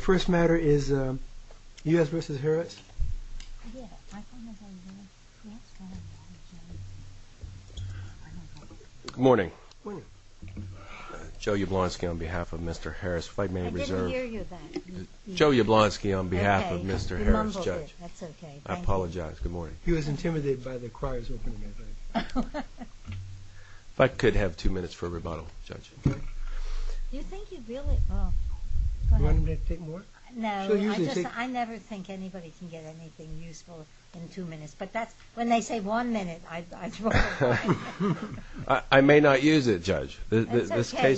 First matter is U.S. v. Harris. Good morning. Joe Yablonski on behalf of Mr. Harris, Fightman Reserve. I didn't hear you then. Joe Yablonski on behalf of Mr. Harris. You mumbled it. That's okay. I apologize. Good morning. He was intimidated by the crier's opening, I think. If I could have two minutes for a rebuttal, Judge. You think you really... Do you want me to take more? No. I never think anybody can get anything useful in two minutes. But when they say one minute, I throw it away. I may not use it, Judge. It's okay.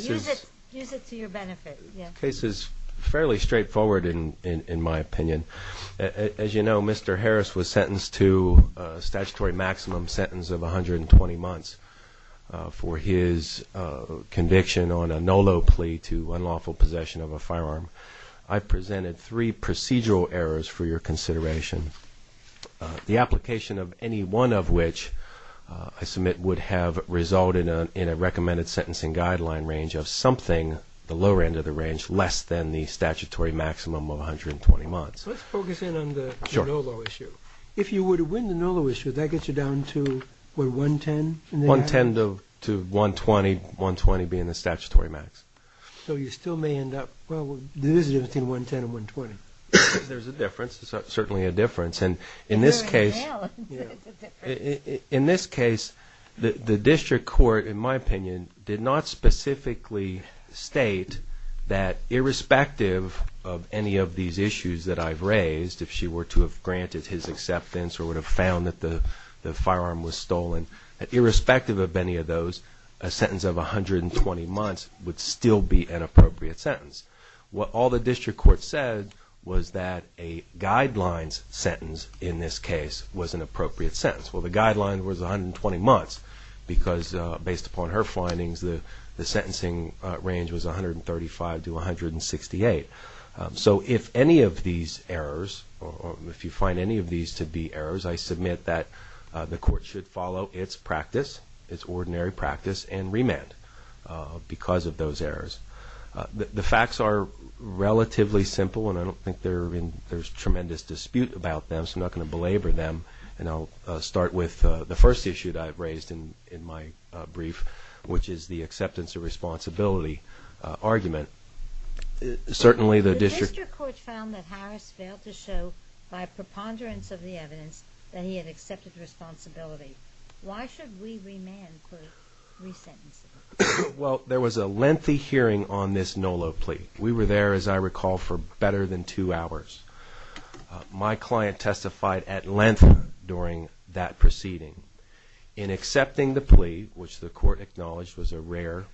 Use it to your benefit. This case is fairly straightforward in my opinion. As you know, Mr. Harris was sentenced to a statutory maximum sentence of 120 months for his conviction on a NOLO plea to unlawful possession of a firearm. I presented three procedural errors for your consideration. The application of any one of which I submit would have resulted in a recommended sentencing guideline range of something, the lower end of the range, less than the statutory maximum of 120 months. Let's focus in on the NOLO issue. If you were to win the NOLO issue, that gets you down to, what, 110? 110 to 120, 120 being the statutory max. So you still may end up... Well, there is a difference between 110 and 120. There's a difference. There's certainly a difference. And in this case... In this case, the district court, in my opinion, did not specifically state that irrespective of any of these issues that I've raised, if she were to have granted his acceptance or would have found that the firearm was stolen, that irrespective of any of those, a sentence of 120 months would still be an appropriate sentence. What all the district court said was that a guidelines sentence, in this case, was an appropriate sentence. Well, the guideline was 120 months because, based upon her findings, the sentencing range was 135 to 168. So if any of these errors, or if you find any of these to be errors, I submit that the court should follow its practice, its ordinary practice, and remand because of those errors. The facts are relatively simple, and I don't think there's tremendous dispute about them, so I'm not going to belabor them, and I'll start with the first issue that I've raised in my brief, which is the acceptance of responsibility argument. The district court found that Harris failed to show, by preponderance of the evidence, that he had accepted responsibility. Why should we remand for resentencing? Well, there was a lengthy hearing on this NOLO plea. We were there, as I recall, for better than two hours. My client testified at length during that proceeding. In accepting the plea, which the court acknowledged was a rare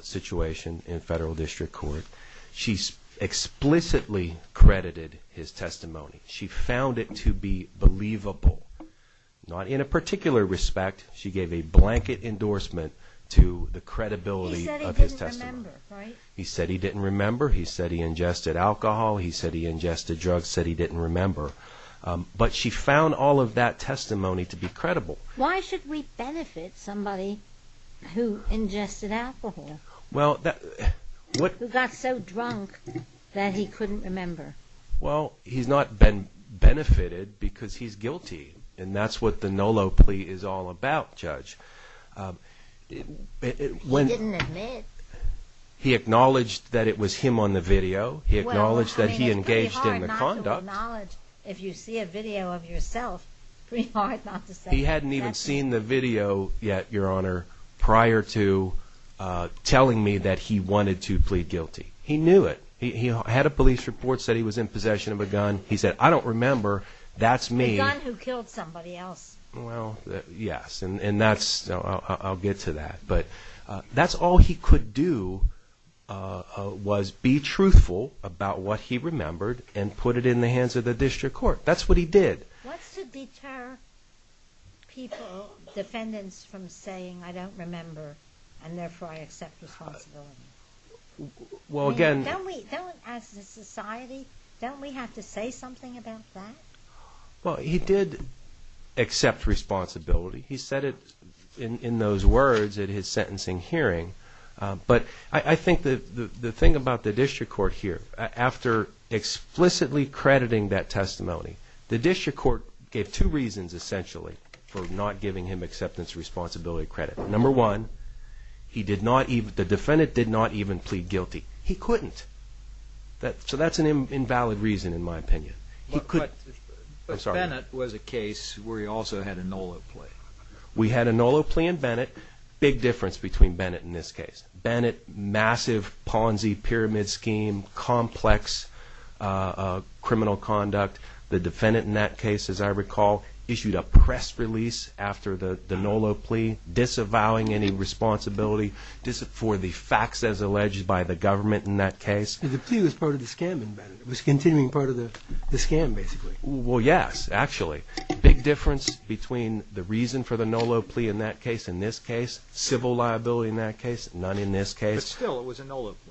situation in federal district court, she explicitly credited his testimony. She found it to be believable. Not in a particular respect. She gave a blanket endorsement to the credibility of his testimony. He said he didn't remember, right? He said he didn't remember. He said he ingested alcohol. He said he ingested drugs. Said he didn't remember. But she found all of that testimony to be credible. Why should we benefit somebody who ingested alcohol? Who got so drunk that he couldn't remember? Well, he's not benefited because he's guilty, and that's what the NOLO plea is all about, Judge. He didn't admit. He acknowledged that it was him on the video. He acknowledged that he engaged in the conduct. Well, I mean, it's pretty hard not to acknowledge if you see a video of yourself. Pretty hard not to say. He hadn't even seen the video yet, Your Honor, prior to telling me that he wanted to plead guilty. He knew it. He had a police report, said he was in possession of a gun. He said, I don't remember. That's me. A gun who killed somebody else. Well, yes, and that's – I'll get to that. But that's all he could do was be truthful about what he remembered and put it in the hands of the district court. That's what he did. What's to deter people, defendants, from saying, I don't remember, and therefore I accept responsibility? Well, again – Don't we, as a society, don't we have to say something about that? Well, he did accept responsibility. He said it in those words at his sentencing hearing. But I think the thing about the district court here, after explicitly crediting that testimony, the district court gave two reasons, essentially, for not giving him acceptance of responsibility credit. Number one, he did not – the defendant did not even plead guilty. He couldn't. So that's an invalid reason, in my opinion. But Bennett was a case where he also had a NOLO plea. We had a NOLO plea in Bennett. Big difference between Bennett and this case. Bennett, massive Ponzi pyramid scheme, complex criminal conduct. The defendant in that case, as I recall, issued a press release after the NOLO plea, disavowing any responsibility for the facts as alleged by the government in that case. The plea was part of the scam in Bennett. It was continuing part of the scam, basically. Well, yes, actually. Big difference between the reason for the NOLO plea in that case and this case. Civil liability in that case, none in this case. But still, it was a NOLO plea.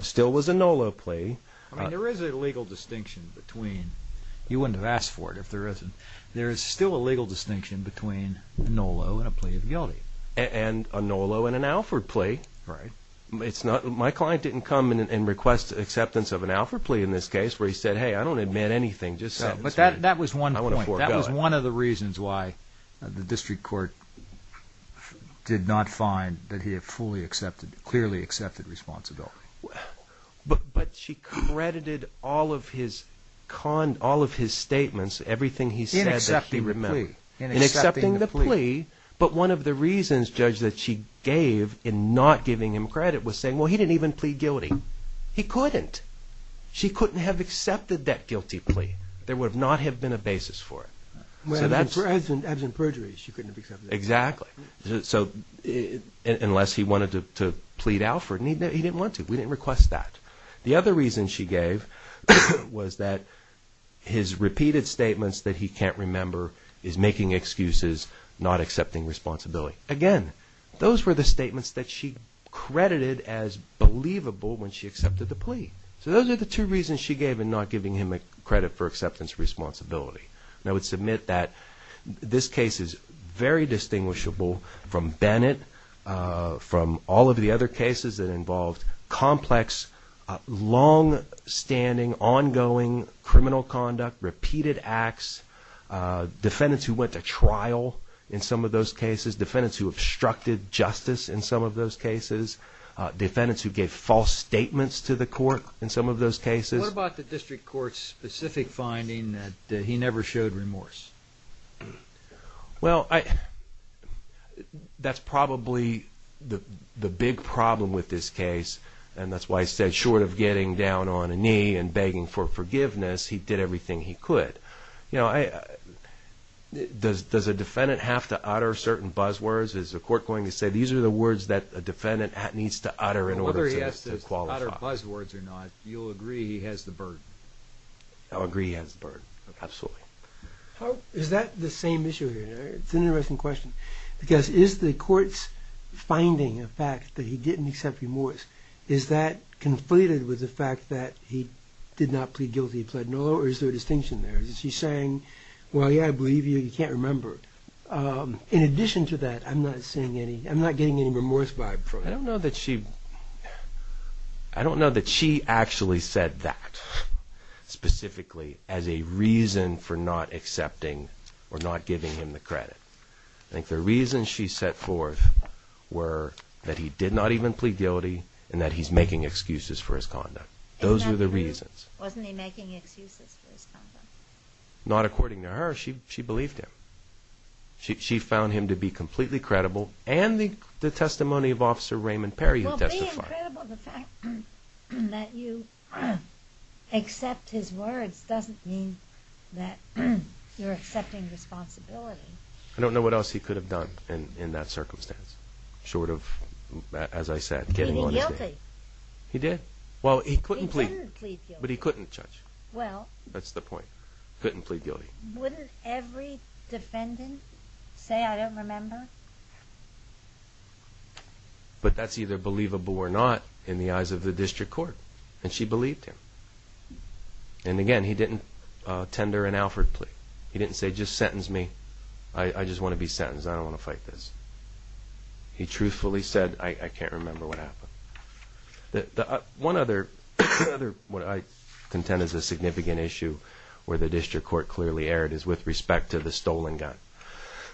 Still was a NOLO plea. I mean, there is a legal distinction between – you wouldn't have asked for it if there isn't. There is still a legal distinction between a NOLO and a plea of guilty. And a NOLO and an Alford plea. Right. My client didn't come and request acceptance of an Alford plea in this case where he said, hey, I don't admit anything, just so. But that was one point. I want to forego it. That was one of the reasons why the district court did not find that he had clearly accepted responsibility. But she credited all of his statements, everything he said that he remembered. In accepting the plea. In accepting the plea. But one of the reasons, Judge, that she gave in not giving him credit was saying, well, he didn't even plead guilty. He couldn't. She couldn't have accepted that guilty plea. There would not have been a basis for it. Absent perjury, she couldn't have accepted it. Exactly. So, unless he wanted to plead Alford, he didn't want to. We didn't request that. The other reason she gave was that his repeated statements that he can't remember is making excuses, not accepting responsibility. Again, those were the statements that she credited as believable when she accepted the plea. So those are the two reasons she gave in not giving him credit for acceptance of responsibility. And I would submit that this case is very distinguishable from Bennett, from all of the other cases that involved complex, long-standing, ongoing criminal conduct, repeated acts, defendants who went to trial in some of those cases, defendants who obstructed justice in some of those cases, defendants who gave false statements to the court in some of those cases. What about the district court's specific finding that he never showed remorse? Well, that's probably the big problem with this case, and that's why I said short of getting down on a knee and begging for forgiveness, he did everything he could. Does a defendant have to utter certain buzzwords? Is the court going to say these are the words that a defendant needs to utter in order to qualify? Whether he has to utter buzzwords or not, you'll agree he has the burden. I'll agree he has the burden, absolutely. Is that the same issue here? It's an interesting question because is the court's finding a fact that he didn't accept remorse, is that conflated with the fact that he did not plead guilty, he pled no, or is there a distinction there? Is she saying, well, yeah, I believe you, you can't remember. In addition to that, I'm not getting any remorse vibe from it. I don't know that she actually said that specifically as a reason for not accepting or not giving him the credit. I think the reasons she set forth were that he did not even plead guilty and that he's making excuses for his conduct. Those are the reasons. Wasn't he making excuses for his conduct? Not according to her. She believed him. She found him to be completely credible and the testimony of Officer Raymond Perry who testified. Wouldn't it be incredible the fact that you accept his words doesn't mean that you're accepting responsibility. I don't know what else he could have done in that circumstance short of, as I said, getting on his case. Plead guilty. He did. Well, he couldn't plead. He couldn't plead guilty. But he couldn't judge. Well. That's the point. Couldn't plead guilty. Wouldn't every defendant say, I don't remember? But that's either believable or not in the eyes of the district court. And she believed him. And, again, he didn't tender an Alford plea. He didn't say, just sentence me. I just want to be sentenced. I don't want to fight this. He truthfully said, I can't remember what happened. One other, what I contend is a significant issue where the district court clearly erred is with respect to the stolen gun.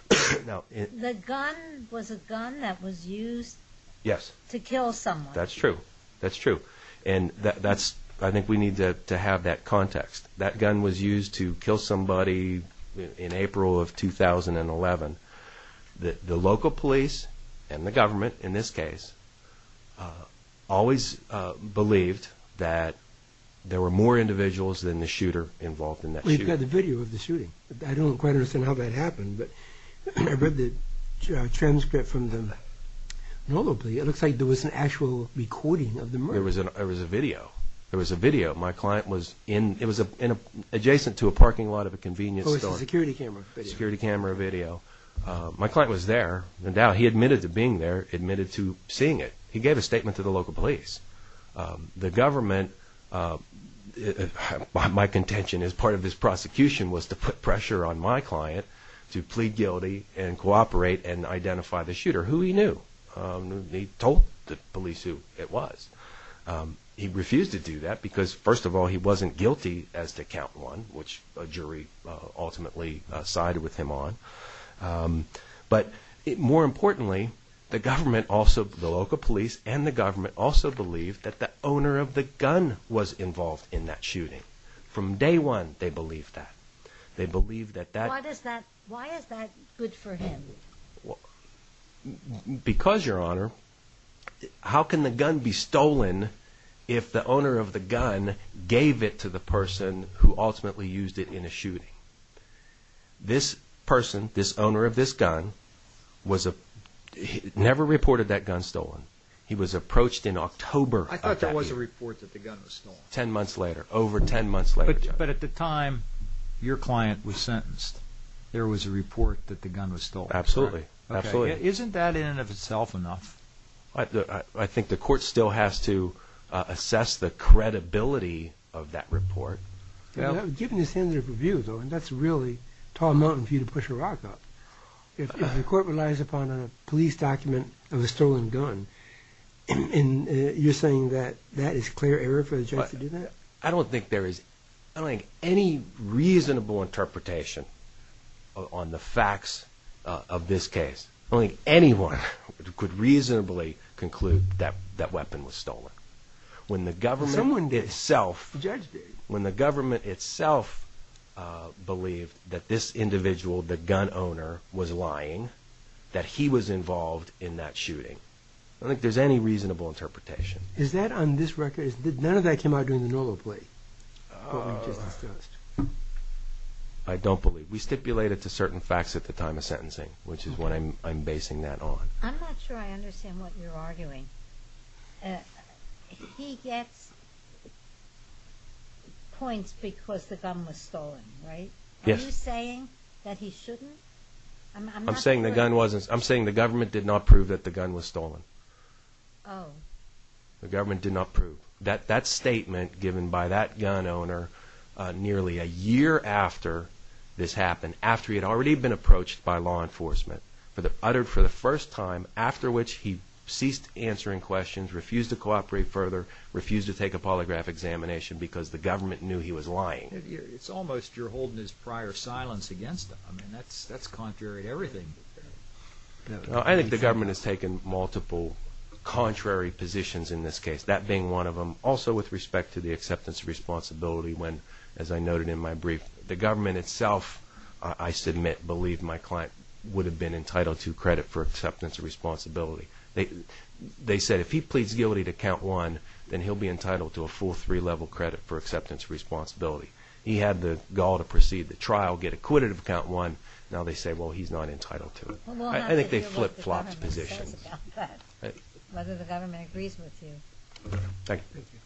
The gun was a gun that was used to kill someone. That's true. That's true. And I think we need to have that context. That gun was used to kill somebody in April of 2011. The local police and the government, in this case, always believed that there were more individuals than the shooter involved in that shooting. Well, you've got the video of the shooting. I don't quite understand how that happened. But I read the transcript from the normal plea. It looks like there was an actual recording of the murder. There was a video. There was a video. My client was in, it was adjacent to a parking lot of a convenience store. Oh, it was a security camera video. Security camera video. My client was there. Now, he admitted to being there, admitted to seeing it. He gave a statement to the local police. The government, my contention as part of this prosecution, was to put pressure on my client to plead guilty and cooperate and identify the shooter, who he knew. He told the police who it was. He refused to do that because, first of all, he wasn't guilty as to count one, which a jury ultimately sided with him on. But more importantly, the government also, the local police and the government also believed that the owner of the gun was involved in that shooting. From day one, they believed that. They believed that that. Why is that good for him? Because, Your Honor, how can the gun be stolen if the owner of the gun gave it to the person who ultimately used it in a shooting? This person, this owner of this gun, never reported that gun stolen. He was approached in October of that year. I thought there was a report that the gun was stolen. Ten months later, over ten months later. But at the time your client was sentenced, there was a report that the gun was stolen. Absolutely, absolutely. Isn't that in and of itself enough? I think the court still has to assess the credibility of that report. Given the standard of review, though, and that's a really tall mountain for you to push a rock up, if the court relies upon a police document of a stolen gun, you're saying that that is clear error for the judge to do that? I don't think there is any reasonable interpretation on the facts of this case. I don't think anyone could reasonably conclude that that weapon was stolen. Someone did. When the government itself believed that this individual, the gun owner, was lying, that he was involved in that shooting, I don't think there's any reasonable interpretation. Is that on this record? None of that came out during the normal plea? I don't believe. We stipulate it to certain facts at the time of sentencing, which is what I'm basing that on. He gets points because the gun was stolen, right? Yes. Are you saying that he shouldn't? I'm saying the government did not prove that the gun was stolen. Oh. The government did not prove. That statement given by that gun owner nearly a year after this happened, after he had already been approached by law enforcement, uttered for the first time, after which he ceased answering questions, refused to cooperate further, refused to take a polygraph examination because the government knew he was lying. It's almost you're holding his prior silence against him. I mean, that's contrary to everything. I think the government has taken multiple contrary positions in this case, that being one of them. Also with respect to the acceptance of responsibility when, as I noted in my brief, the government itself, I submit, believed my client would have been entitled to credit for acceptance of responsibility. They said if he pleads guilty to count one, then he'll be entitled to a full three-level credit for acceptance of responsibility. He had the gall to proceed the trial, get acquitted of count one. Now they say, well, he's not entitled to it. Well, we'll have to deal with what the government says about that, whether the government agrees with you. Thank you. Thank you. Thank you.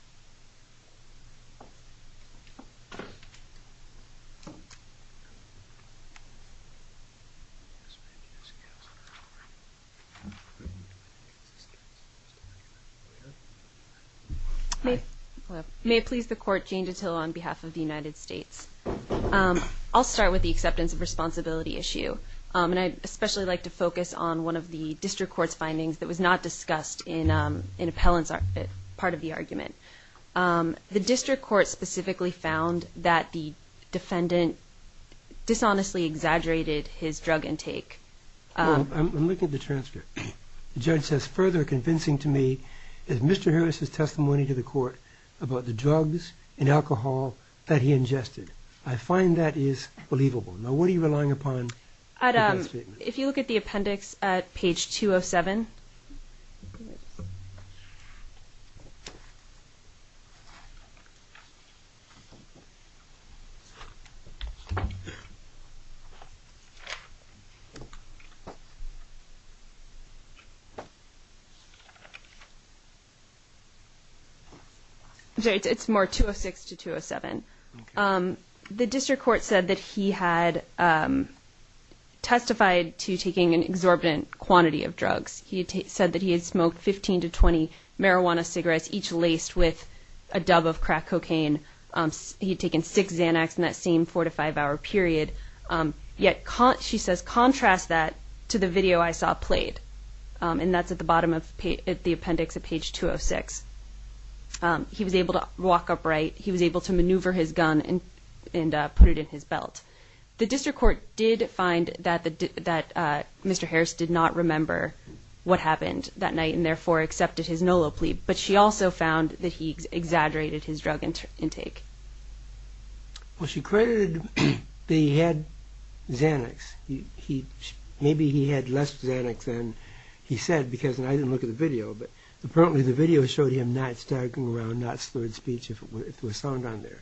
May it please the Court, Jane Ditillo on behalf of the United States. I'll start with the acceptance of responsibility issue, and I'd especially like to focus on one of the district court's findings that was not discussed in appellant's part of the argument. The district court specifically found that the defendant dishonestly exaggerated his drug intake. I'm looking at the transcript. The judge says, further convincing to me is Mr. Harris's testimony to the court about the drugs and alcohol that he ingested. I find that is believable. Now, what are you relying upon? If you look at the appendix at page 207. It's more 206 to 207. The district court said that he had testified to taking an exorbitant quantity of drugs. He said that he had smoked 15 to 20 marijuana cigarettes, each laced with a dub of crack cocaine. He had taken six Xanax in that same four- to five-hour period. Yet she says, contrast that to the video I saw played. And that's at the bottom of the appendix at page 206. He was able to walk upright. He was able to maneuver his gun and put it in his belt. The district court did find that Mr. Harris did not remember what happened that night and therefore accepted his NOLO plea. But she also found that he exaggerated his drug intake. Well, she credited that he had Xanax. Maybe he had less Xanax than he said because I didn't look at the video. But apparently the video showed him not staggering around, not slurred speech, if it was found on there.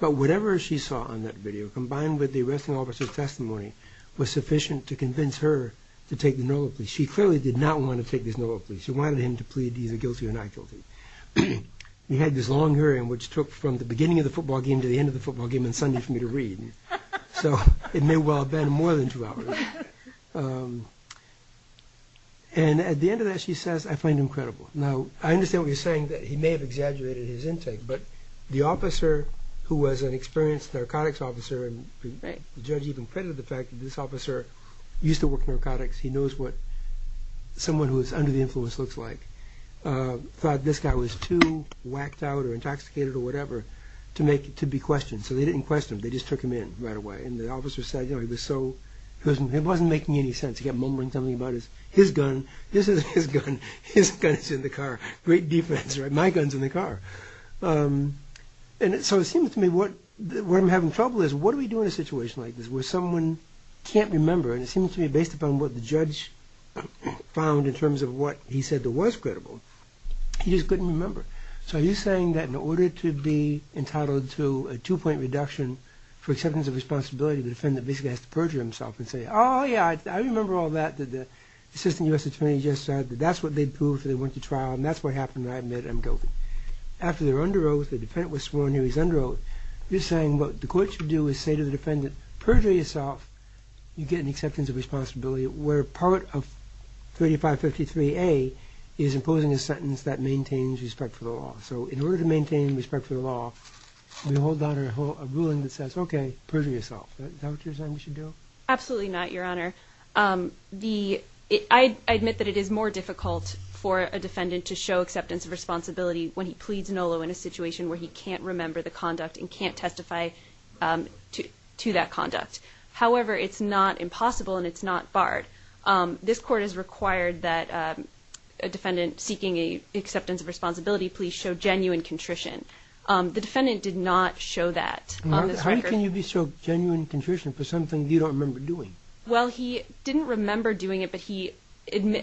But whatever she saw on that video, combined with the arresting officer's testimony, was sufficient to convince her to take the NOLO plea. She clearly did not want to take this NOLO plea. She wanted him to plead either guilty or not guilty. He had this long hearing which took from the beginning of the football game to the end of the football game and Sunday for me to read. So it may well have been more than two hours. And at the end of that she says, I find him credible. Now, I understand what you're saying that he may have exaggerated his intake, but the officer who was an experienced narcotics officer, and the judge even credited the fact that this officer used to work in narcotics, he knows what someone who is under the influence looks like, thought this guy was too whacked out or intoxicated or whatever to be questioned. So they didn't question him, they just took him in right away. And the officer said it wasn't making any sense. He kept mumbling something about his gun. This isn't his gun. His gun is in the car. Great defense, right? My gun is in the car. And so it seems to me where I'm having trouble is what do we do in a situation like this where someone can't remember, and it seems to me based upon what the judge found in terms of what he said that was credible, he just couldn't remember. So are you saying that in order to be entitled to a two-point reduction for acceptance of responsibility, the defendant basically has to perjure himself and say, oh, yeah, I remember all that. The assistant U.S. attorney just said that that's what they proved when they went to trial, and that's what happened, and I admit it. I'm joking. After they're under oath, the defendant was sworn in, he was under oath, you're saying what the court should do is say to the defendant, perjure yourself, you get an acceptance of responsibility, where part of 3553A is imposing a sentence that maintains respect for the law. So in order to maintain respect for the law, you hold on to a ruling that says, okay, perjure yourself. Is that what you're saying we should do? Absolutely not, Your Honor. I admit that it is more difficult for a defendant to show acceptance of responsibility when he pleads NOLO in a situation where he can't remember the conduct and can't testify to that conduct. However, it's not impossible and it's not barred. This court has required that a defendant seeking acceptance of responsibility please show genuine contrition. The defendant did not show that on this record. How can you be so genuine in contrition for something you don't remember doing? Well, he didn't remember doing it, but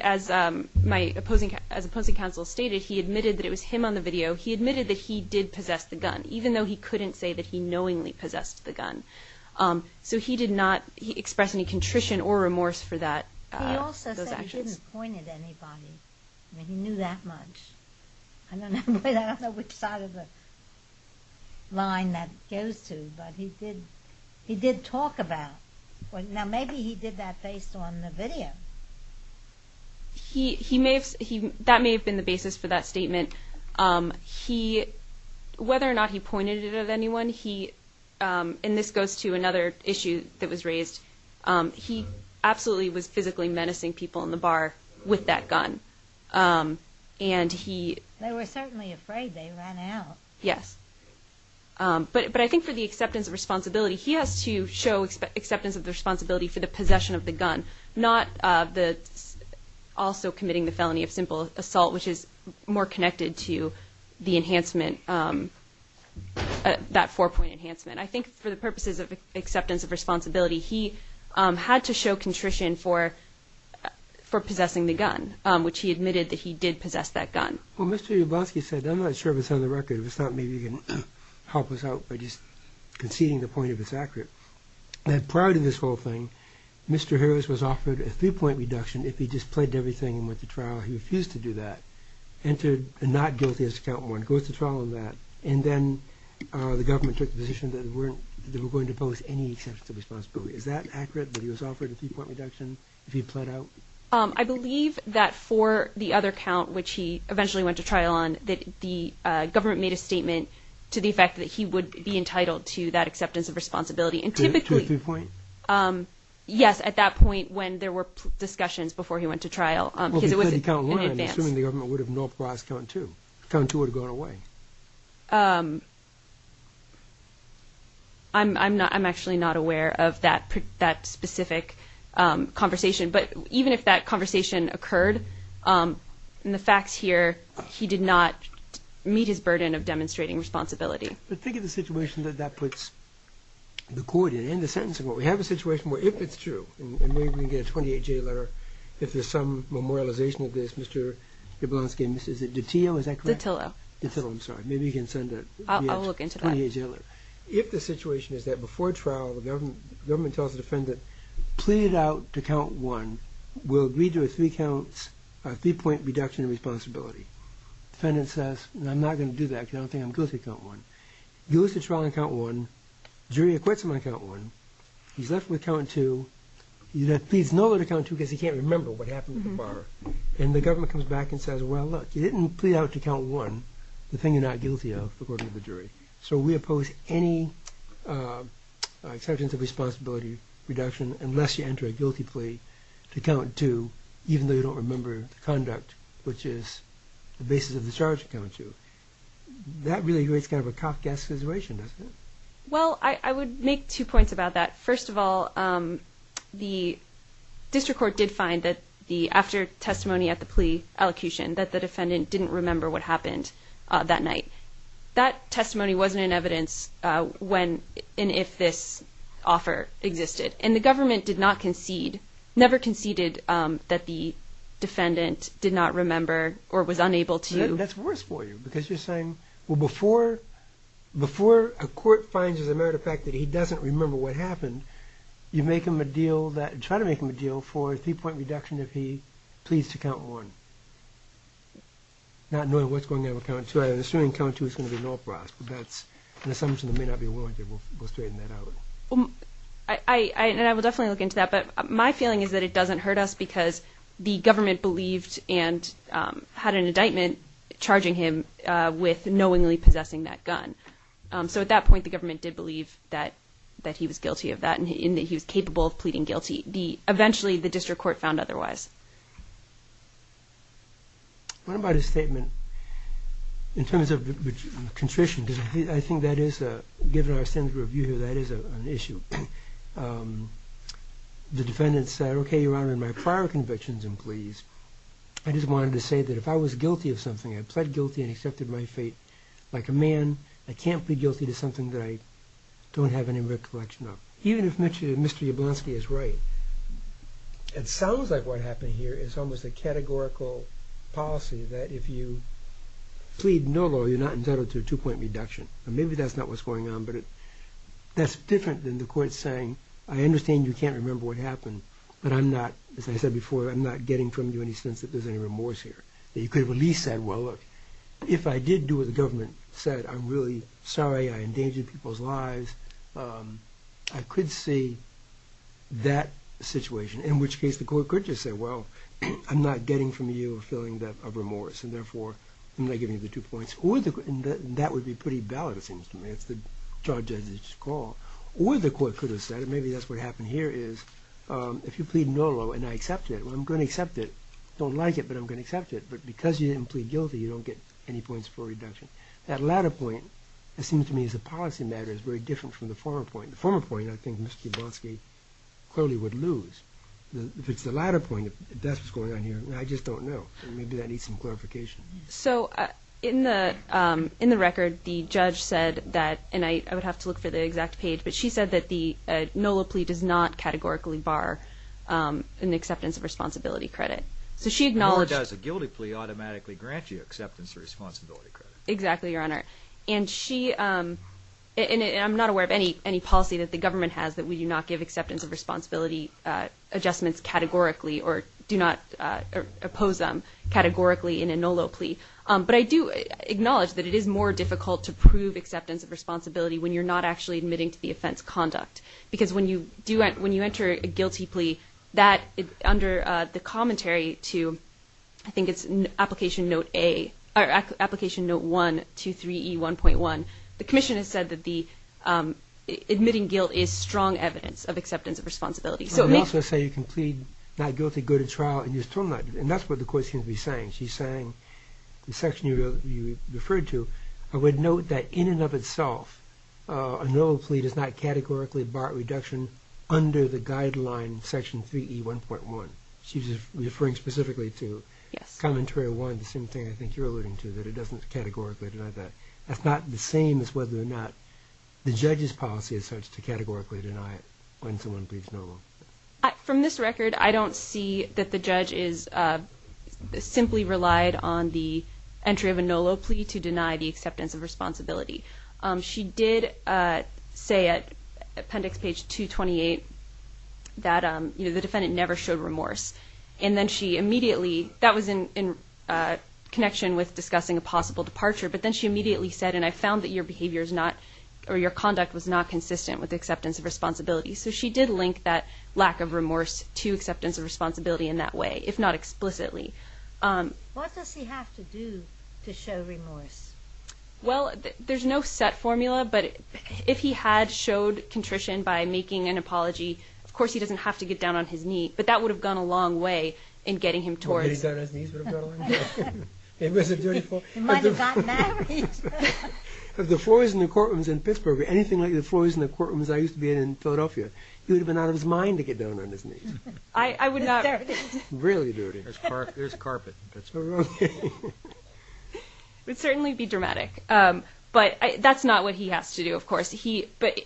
as my opposing counsel stated, he admitted that it was him on the video. He admitted that he did possess the gun, even though he couldn't say that he knowingly possessed the gun. So he did not express any contrition or remorse for those actions. He also said he didn't point at anybody. I mean, he knew that much. I don't know which side of the line that goes to, but he did talk about it. Now, maybe he did that based on the video. That may have been the basis for that statement. Whether or not he pointed it at anyone, and this goes to another issue that was raised, he absolutely was physically menacing people in the bar with that gun. They were certainly afraid they ran out. Yes. But I think for the acceptance of responsibility, he has to show acceptance of the responsibility for the possession of the gun, not also committing the felony of simple assault, which is more connected to that four-point enhancement. I think for the purposes of acceptance of responsibility, he had to show contrition for possessing the gun, which he admitted that he did possess that gun. Well, Mr. Yablosky said, I'm not sure if it's on the record. If it's not, maybe you can help us out by just conceding the point if it's accurate, that prior to this whole thing, Mr. Harris was offered a three-point reduction if he just pledged everything and went to trial. He refused to do that, entered not guilty as to count one, goes to trial on that, and then the government took the position that they were going to pose any acceptance of responsibility. Is that accurate, that he was offered a three-point reduction if he pled out? I believe that for the other count, which he eventually went to trial on, that the government made a statement to the effect that he would be entitled to that acceptance of responsibility. To a three-point? Yes, at that point when there were discussions before he went to trial because it was in advance. I'm assuming the government would have not passed count two. Count two would have gone away. I'm actually not aware of that specific conversation. But even if that conversation occurred, in the facts here, he did not meet his burden of demonstrating responsibility. But think of the situation that that puts the court in, in the sentence. We have a situation where if it's true, and maybe we can get a 28-J letter, if there's some memorialization of this, Mr. Jablonski, is it Dottillo, is that correct? Dottillo, I'm sorry. Maybe you can send a 28-J letter. I'll look into that. If the situation is that before trial, the government tells the defendant, pleaded out to count one, will agree to a three-point reduction in responsibility. Defendant says, I'm not going to do that because I don't think I'm going to count one. Goes to trial on count one, jury acquits him on count one, he's left with count two, he pleads no to count two because he can't remember what happened with the bar. And the government comes back and says, well, look, you didn't plead out to count one, the thing you're not guilty of, according to the jury. So we oppose any exemptions of responsibility reduction unless you enter a guilty plea to count two, even though you don't remember the conduct, which is the basis of the charge to count two. That really creates kind of a cough gas situation, doesn't it? Well, I would make two points about that. First of all, the district court did find that after testimony at the plea allocution, that the defendant didn't remember what happened that night. That testimony wasn't in evidence when and if this offer existed. And the government did not concede, never conceded that the defendant did not remember or was unable to. That's worse for you because you're saying, Well, before a court finds as a matter of fact that he doesn't remember what happened, you make him a deal, try to make him a deal for a three-point reduction if he pleads to count one, not knowing what's going on with count two. I'm assuming count two is going to be an all-for-us, but that's an assumption they may not be willing to. We'll straighten that out. And I will definitely look into that. But my feeling is that it doesn't hurt us because the government believed and had an indictment charging him with knowingly possessing that gun. So at that point, the government did believe that he was guilty of that and that he was capable of pleading guilty. Eventually, the district court found otherwise. What about his statement in terms of constriction? Because I think that is, given our standard review here, that is an issue. The defendant said, Okay, Your Honor, in my prior convictions and pleas, I just wanted to say that if I was guilty of something, I pled guilty and accepted my fate like a man, I can't plead guilty to something that I don't have any recollection of. Even if Mr. Jablonski is right, it sounds like what happened here is almost a categorical policy that if you plead no law, you're not entitled to a two-point reduction. Maybe that's not what's going on, but that's different than the court saying, I understand you can't remember what happened, but I'm not, as I said before, I'm not getting from you any sense that there's any remorse here. You could have at least said, Well, look, if I did do what the government said, I'm really sorry I endangered people's lives. I could see that situation, in which case the court could just say, Well, I'm not getting from you a feeling of remorse, and therefore I'm not giving you the two points. That would be pretty valid, it seems to me. It's the charge as it's called. Or the court could have said, and maybe that's what happened here is, If you plead no law and I accept it, well, I'm going to accept it. I don't like it, but I'm going to accept it. But because you didn't plead guilty, you don't get any points for reduction. That latter point, it seems to me, as a policy matter, is very different from the former point. The former point, I think Mr. Jablonski clearly would lose. If it's the latter point, if that's what's going on here, I just don't know. Maybe that needs some clarification. So in the record, the judge said that, and I would have to look for the exact page, but she said that the NOLA plea does not categorically bar an acceptance of responsibility credit. Nor does a guilty plea automatically grant you acceptance of responsibility credit. Exactly, Your Honor. And I'm not aware of any policy that the government has that we do not give acceptance of responsibility adjustments categorically or do not oppose them categorically in a NOLA plea. But I do acknowledge that it is more difficult to prove acceptance of responsibility when you're not actually admitting to the offense conduct. Because when you enter a guilty plea, under the commentary to, I think it's Application Note 1-23E1.1, the commission has said that admitting guilt is strong evidence of acceptance of responsibility. They also say you can plead not guilty, go to trial, and you're still not. And that's what the court seems to be saying. She's saying, the section you referred to, I would note that in and of itself a NOLA plea does not categorically bar a reduction under the guideline Section 3E1.1. She's referring specifically to Commentary 1, the same thing I think you're alluding to, that it doesn't categorically deny that. That's not the same as whether or not the judge's policy is such to categorically deny it when someone pleads NOLA. From this record, I don't see that the judge simply relied on the entry of a NOLA plea to deny the acceptance of responsibility. She did say at Appendix Page 228 that the defendant never showed remorse. And then she immediately, that was in connection with discussing a possible departure, but then she immediately said, and I found that your conduct was not consistent with acceptance of responsibility. So she did link that lack of remorse to acceptance of responsibility in that way, if not explicitly. What does he have to do to show remorse? Well, there's no set formula, but if he had showed contrition by making an apology, of course he doesn't have to get down on his knees, but that would have gone a long way in getting him towards it. If he had gotten on his knees, it would have gone a long way. He might have gotten married. If the floors in the courtrooms in Pittsburgh were anything like the floors in the courtrooms I used to be in in Philadelphia, he would have been out of his mind to get down on his knees. Really dirty. There's carpet. It would certainly be dramatic. But that's not what he has to do, of course. But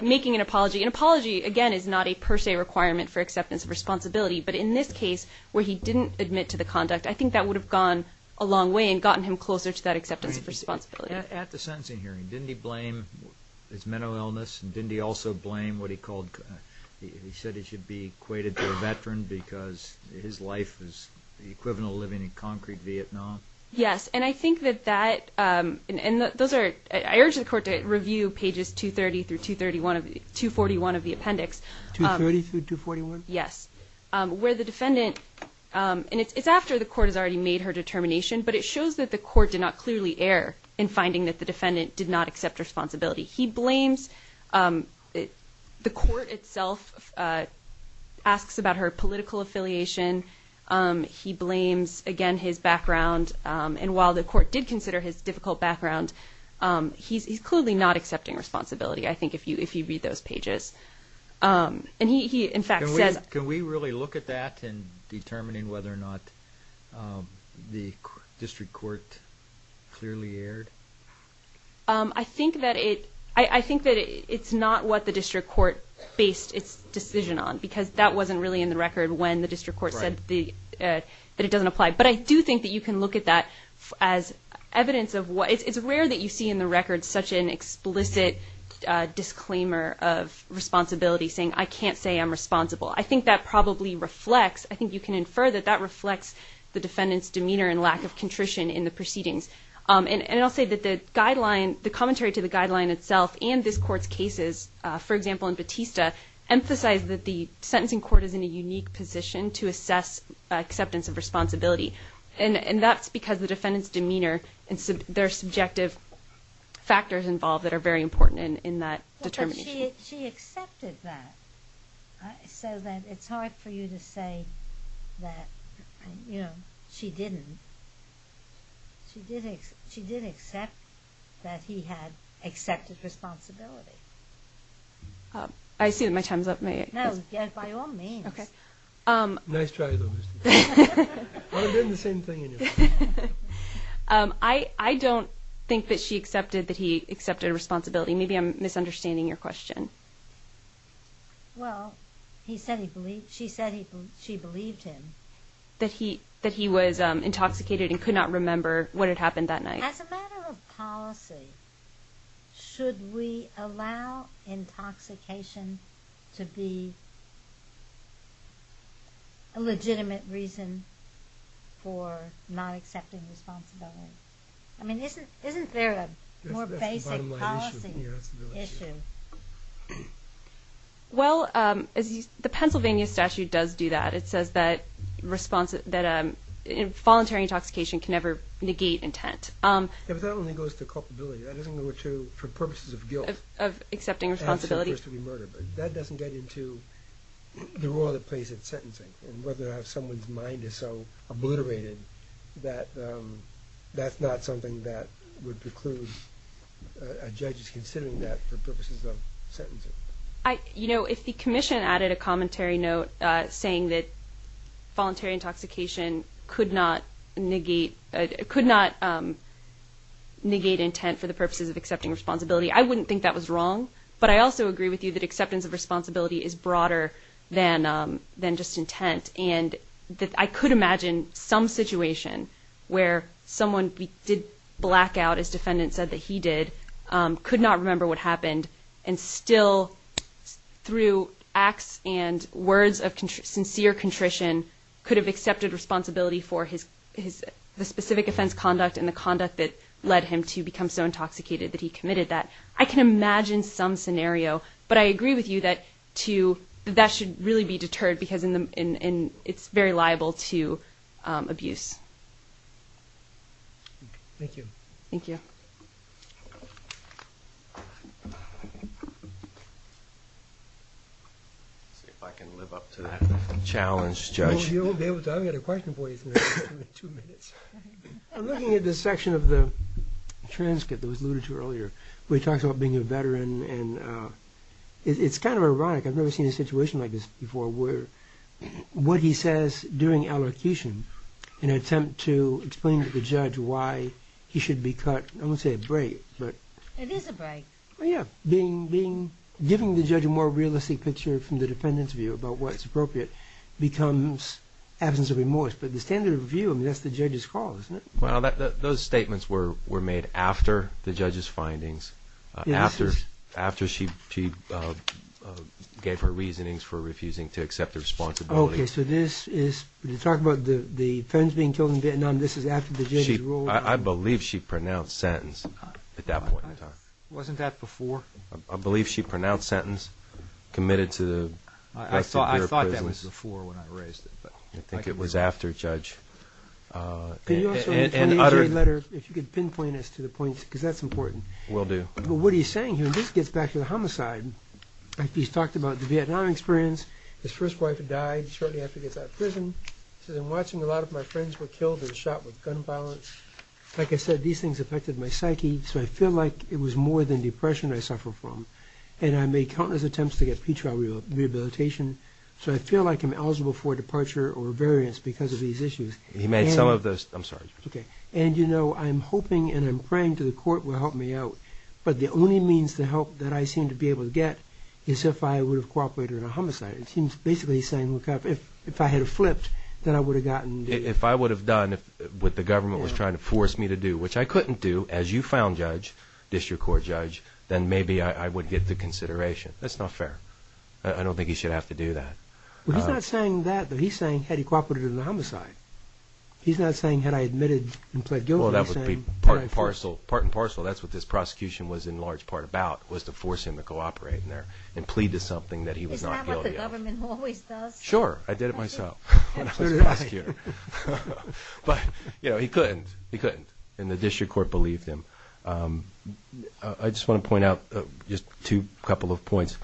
making an apology, an apology, again, is not a per se requirement for acceptance of responsibility. But in this case, where he didn't admit to the conduct, I think that would have gone a long way and gotten him closer to that acceptance of responsibility. At the sentencing hearing, didn't he blame his mental illness and didn't he also blame what he called, he said he should be equated to a veteran because his life was the equivalent of living in concrete Vietnam? Yes, and I think that that, and those are, I urge the court to review pages 230 through 231 of the appendix. 230 through 241? Yes, where the defendant, and it's after the court has already made her determination, but it shows that the court did not clearly err in finding that the defendant did not accept responsibility. He blames, the court itself asks about her political affiliation. He blames, again, his background. And while the court did consider his difficult background, he's clearly not accepting responsibility, I think, if you read those pages. And he, in fact, says... Can we really look at that in determining whether or not the district court clearly erred? I think that it's not what the district court based its decision on because that wasn't really in the record when the district court said that it doesn't apply. But I do think that you can look at that as evidence of what, it's rare that you see in the record such an explicit disclaimer of responsibility saying, I can't say I'm responsible. I think that probably reflects, I think you can infer that that reflects the defendant's demeanor and lack of contrition in the proceedings. And I'll say that the guideline, the commentary to the guideline itself and this court's cases, for example, in Batista, emphasize that the sentencing court is in a unique position to assess acceptance of responsibility. And that's because the defendant's demeanor and their subjective factors involved that are very important in that determination. But she accepted that. So then it's hard for you to say that she didn't. She did accept that he had accepted responsibility. I see that my time's up. No, by all means. Nice try, though. But I'm doing the same thing anyway. I don't think that she accepted that he accepted responsibility. Maybe I'm misunderstanding your question. Well, she said she believed him. That he was intoxicated and could not remember what had happened that night. As a matter of policy, should we allow intoxication to be a legitimate reason for not accepting responsibility? I mean, isn't there a more basic policy issue? Well, the Pennsylvania statute does do that. It says that voluntary intoxication can never negate intent. Yeah, but that only goes to culpability. That doesn't go to purposes of guilt. Of accepting responsibility. That doesn't get into the role that plays in sentencing and whether or not someone's mind is so obliterated that that's not something that would preclude a judge considering that for purposes of sentencing. You know, if the commission added a commentary note saying that voluntary intoxication could not negate intent for the purposes of accepting responsibility, I wouldn't think that was wrong. But I also agree with you that acceptance of responsibility is broader than just intent. And I could imagine some situation where someone did black out, as defendant said that he did, could not remember what happened and still through acts and words of sincere contrition could have accepted responsibility for the specific offense conduct and the conduct that led him to become so intoxicated that he committed that. I can imagine some scenario. But I agree with you that that should really be deterred because it's very liable to abuse. Thank you. Thank you. Let's see if I can live up to that challenge, Judge. You'll be able to. I've got a question for you in two minutes. I'm looking at this section of the transcript that was alluded to earlier where he talks about being a veteran and it's kind of ironic. I've never seen a situation like this before where what he says during allocution in an attempt to explain to the judge why he should be cut, I wouldn't say a break, but... It is a break. Yeah. Giving the judge a more realistic picture from the defendant's view about what's appropriate becomes absence of remorse. But the standard of review, I mean, that's the judge's call, isn't it? Well, those statements were made after the judge's findings, after she gave her reasonings for refusing to accept the responsibility. Okay, so this is... When you talk about the friends being killed in Vietnam, this is after the judge's ruling? I believe she pronounced sentence at that point in time. Wasn't that before? I believe she pronounced sentence, committed to the rest of their prisons. I thought that was before when I raised it. I think it was after, Judge. Can you also, in the 28-J letter, if you could pinpoint us to the point, because that's important. Will do. But what he's saying here, and this gets back to the homicide. He's talked about the Vietnam experience. His first wife died shortly after he gets out of prison. He says, I'm watching a lot of my friends were killed and shot with gun violence. Like I said, these things affected my psyche, so I feel like it was more than depression I suffer from. And I made countless attempts to get pre-trial rehabilitation, so I feel like I'm eligible for a departure or a variance because of these issues. He made some of those... I'm sorry. And, you know, I'm hoping and I'm praying that coming to the court will help me out. But the only means to help that I seem to be able to get is if I would have cooperated in a homicide. He's basically saying if I had flipped, then I would have gotten... If I would have done what the government was trying to force me to do, which I couldn't do, as you found, Judge, District Court Judge, then maybe I would get the consideration. That's not fair. I don't think he should have to do that. He's not saying that, but he's saying had he cooperated in a homicide. He's not saying had I admitted and pled guilty. Well, that would be part and parcel. That's what this prosecution was in large part about was to force him to cooperate in there and plead to something that he was not guilty of. Isn't that what the government always does? Sure. I did it myself when I was a prosecutor. But, you know, he couldn't. He couldn't. And the District Court believed him. I just want to point out just two couple of points.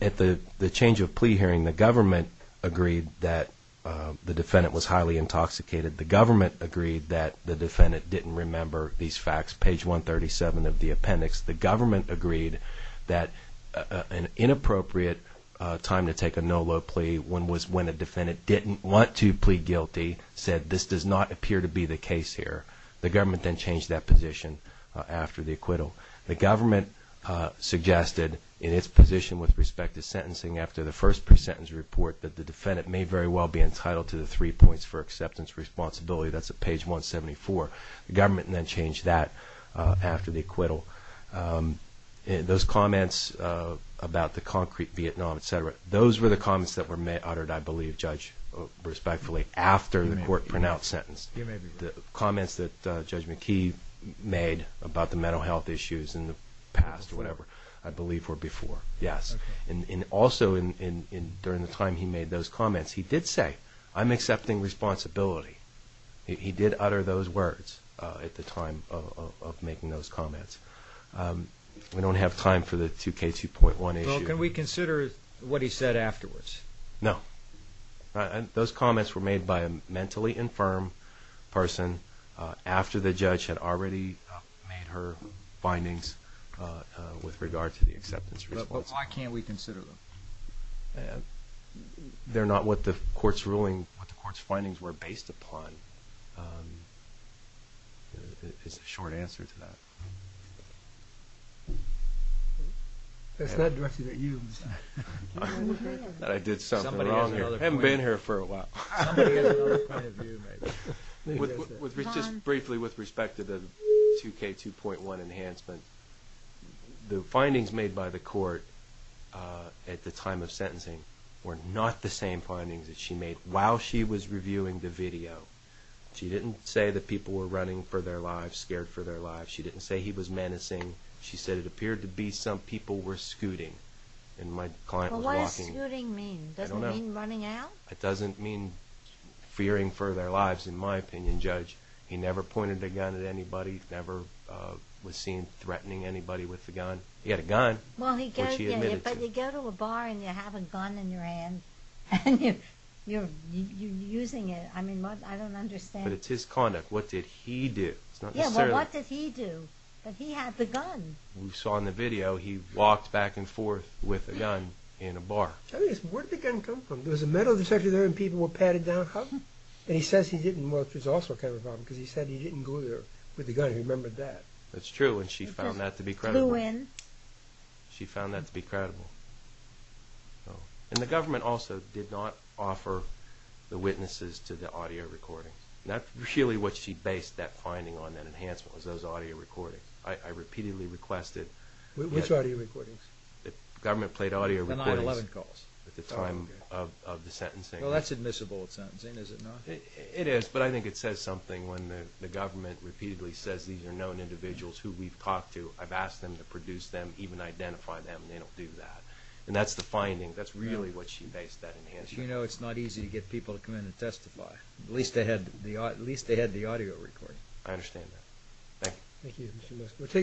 At the change of plea hearing, the government agreed that the defendant was highly intoxicated. The government agreed that the defendant didn't remember these facts. Page 137 of the appendix, the government agreed that an inappropriate time to take a no-law plea was when a defendant didn't want to plead guilty, said this does not appear to be the case here. The government then changed that position after the acquittal. The government suggested in its position with respect to sentencing after the first pre-sentence report that the defendant may very well be entitled to the three points for acceptance responsibility. That's at page 174. The government then changed that after the acquittal. Those comments about the concrete Vietnam, et cetera, those were the comments that were uttered, I believe, Judge, respectfully, after the court pronounced sentence. The comments that Judge McKee made about the mental health issues in the past or whatever, I believe were before, yes. And also during the time he made those comments, he did say, I'm accepting responsibility. He did utter those words at the time of making those comments. We don't have time for the 2K2.1 issue. Well, can we consider what he said afterwards? No. Those comments were made by a mentally infirm person after the judge had already made her findings with regard to the acceptance responsibility. But why can't we consider them? They're not what the court's ruling, what the court's findings were based upon. It's a short answer to that. That's not directed at you. That I did something wrong here. I haven't been here for a while. Just briefly with respect to the 2K2.1 enhancement, the findings made by the court at the time of sentencing were not the same findings that she made while she was reviewing the video. She didn't say that people were running for their lives, scared for their lives. She didn't say he was menacing. She said it appeared to be some people were scooting. What does scooting mean? Doesn't it mean running out? It doesn't mean fearing for their lives, in my opinion, Judge. He never pointed a gun at anybody, he never was seen threatening anybody with a gun. He had a gun, which he admitted to. But you go to a bar and you have a gun in your hand, and you're using it. I mean, I don't understand. But it's his conduct. What did he do? Yeah, but what did he do? But he had the gun. We saw in the video, he walked back and forth with a gun in a bar. Where did the gun come from? There was a metal detector there and people were patted down. How come? And he says he didn't, which is also kind of a problem because he said he didn't go there with a gun. He remembered that. That's true, and she found that to be credible. She found that to be credible. And the government also did not offer the witnesses to the audio recordings. That's really what she based that finding on, that enhancement, was those audio recordings. I repeatedly requested. Which audio recordings? Government-played audio recordings. The 9-11 calls. At the time of the sentencing. Well, that's admissible in sentencing, is it not? It is, but I think it says something when the government repeatedly says these are known individuals who we've talked to, I've asked them to produce them, even identify them, and they don't do that. And that's the finding. That's really what she based that enhancement on. As you know, it's not easy to get people to come in and testify. At least they had the audio recording. I understand that. Thank you. Thank you, Mr. Lester.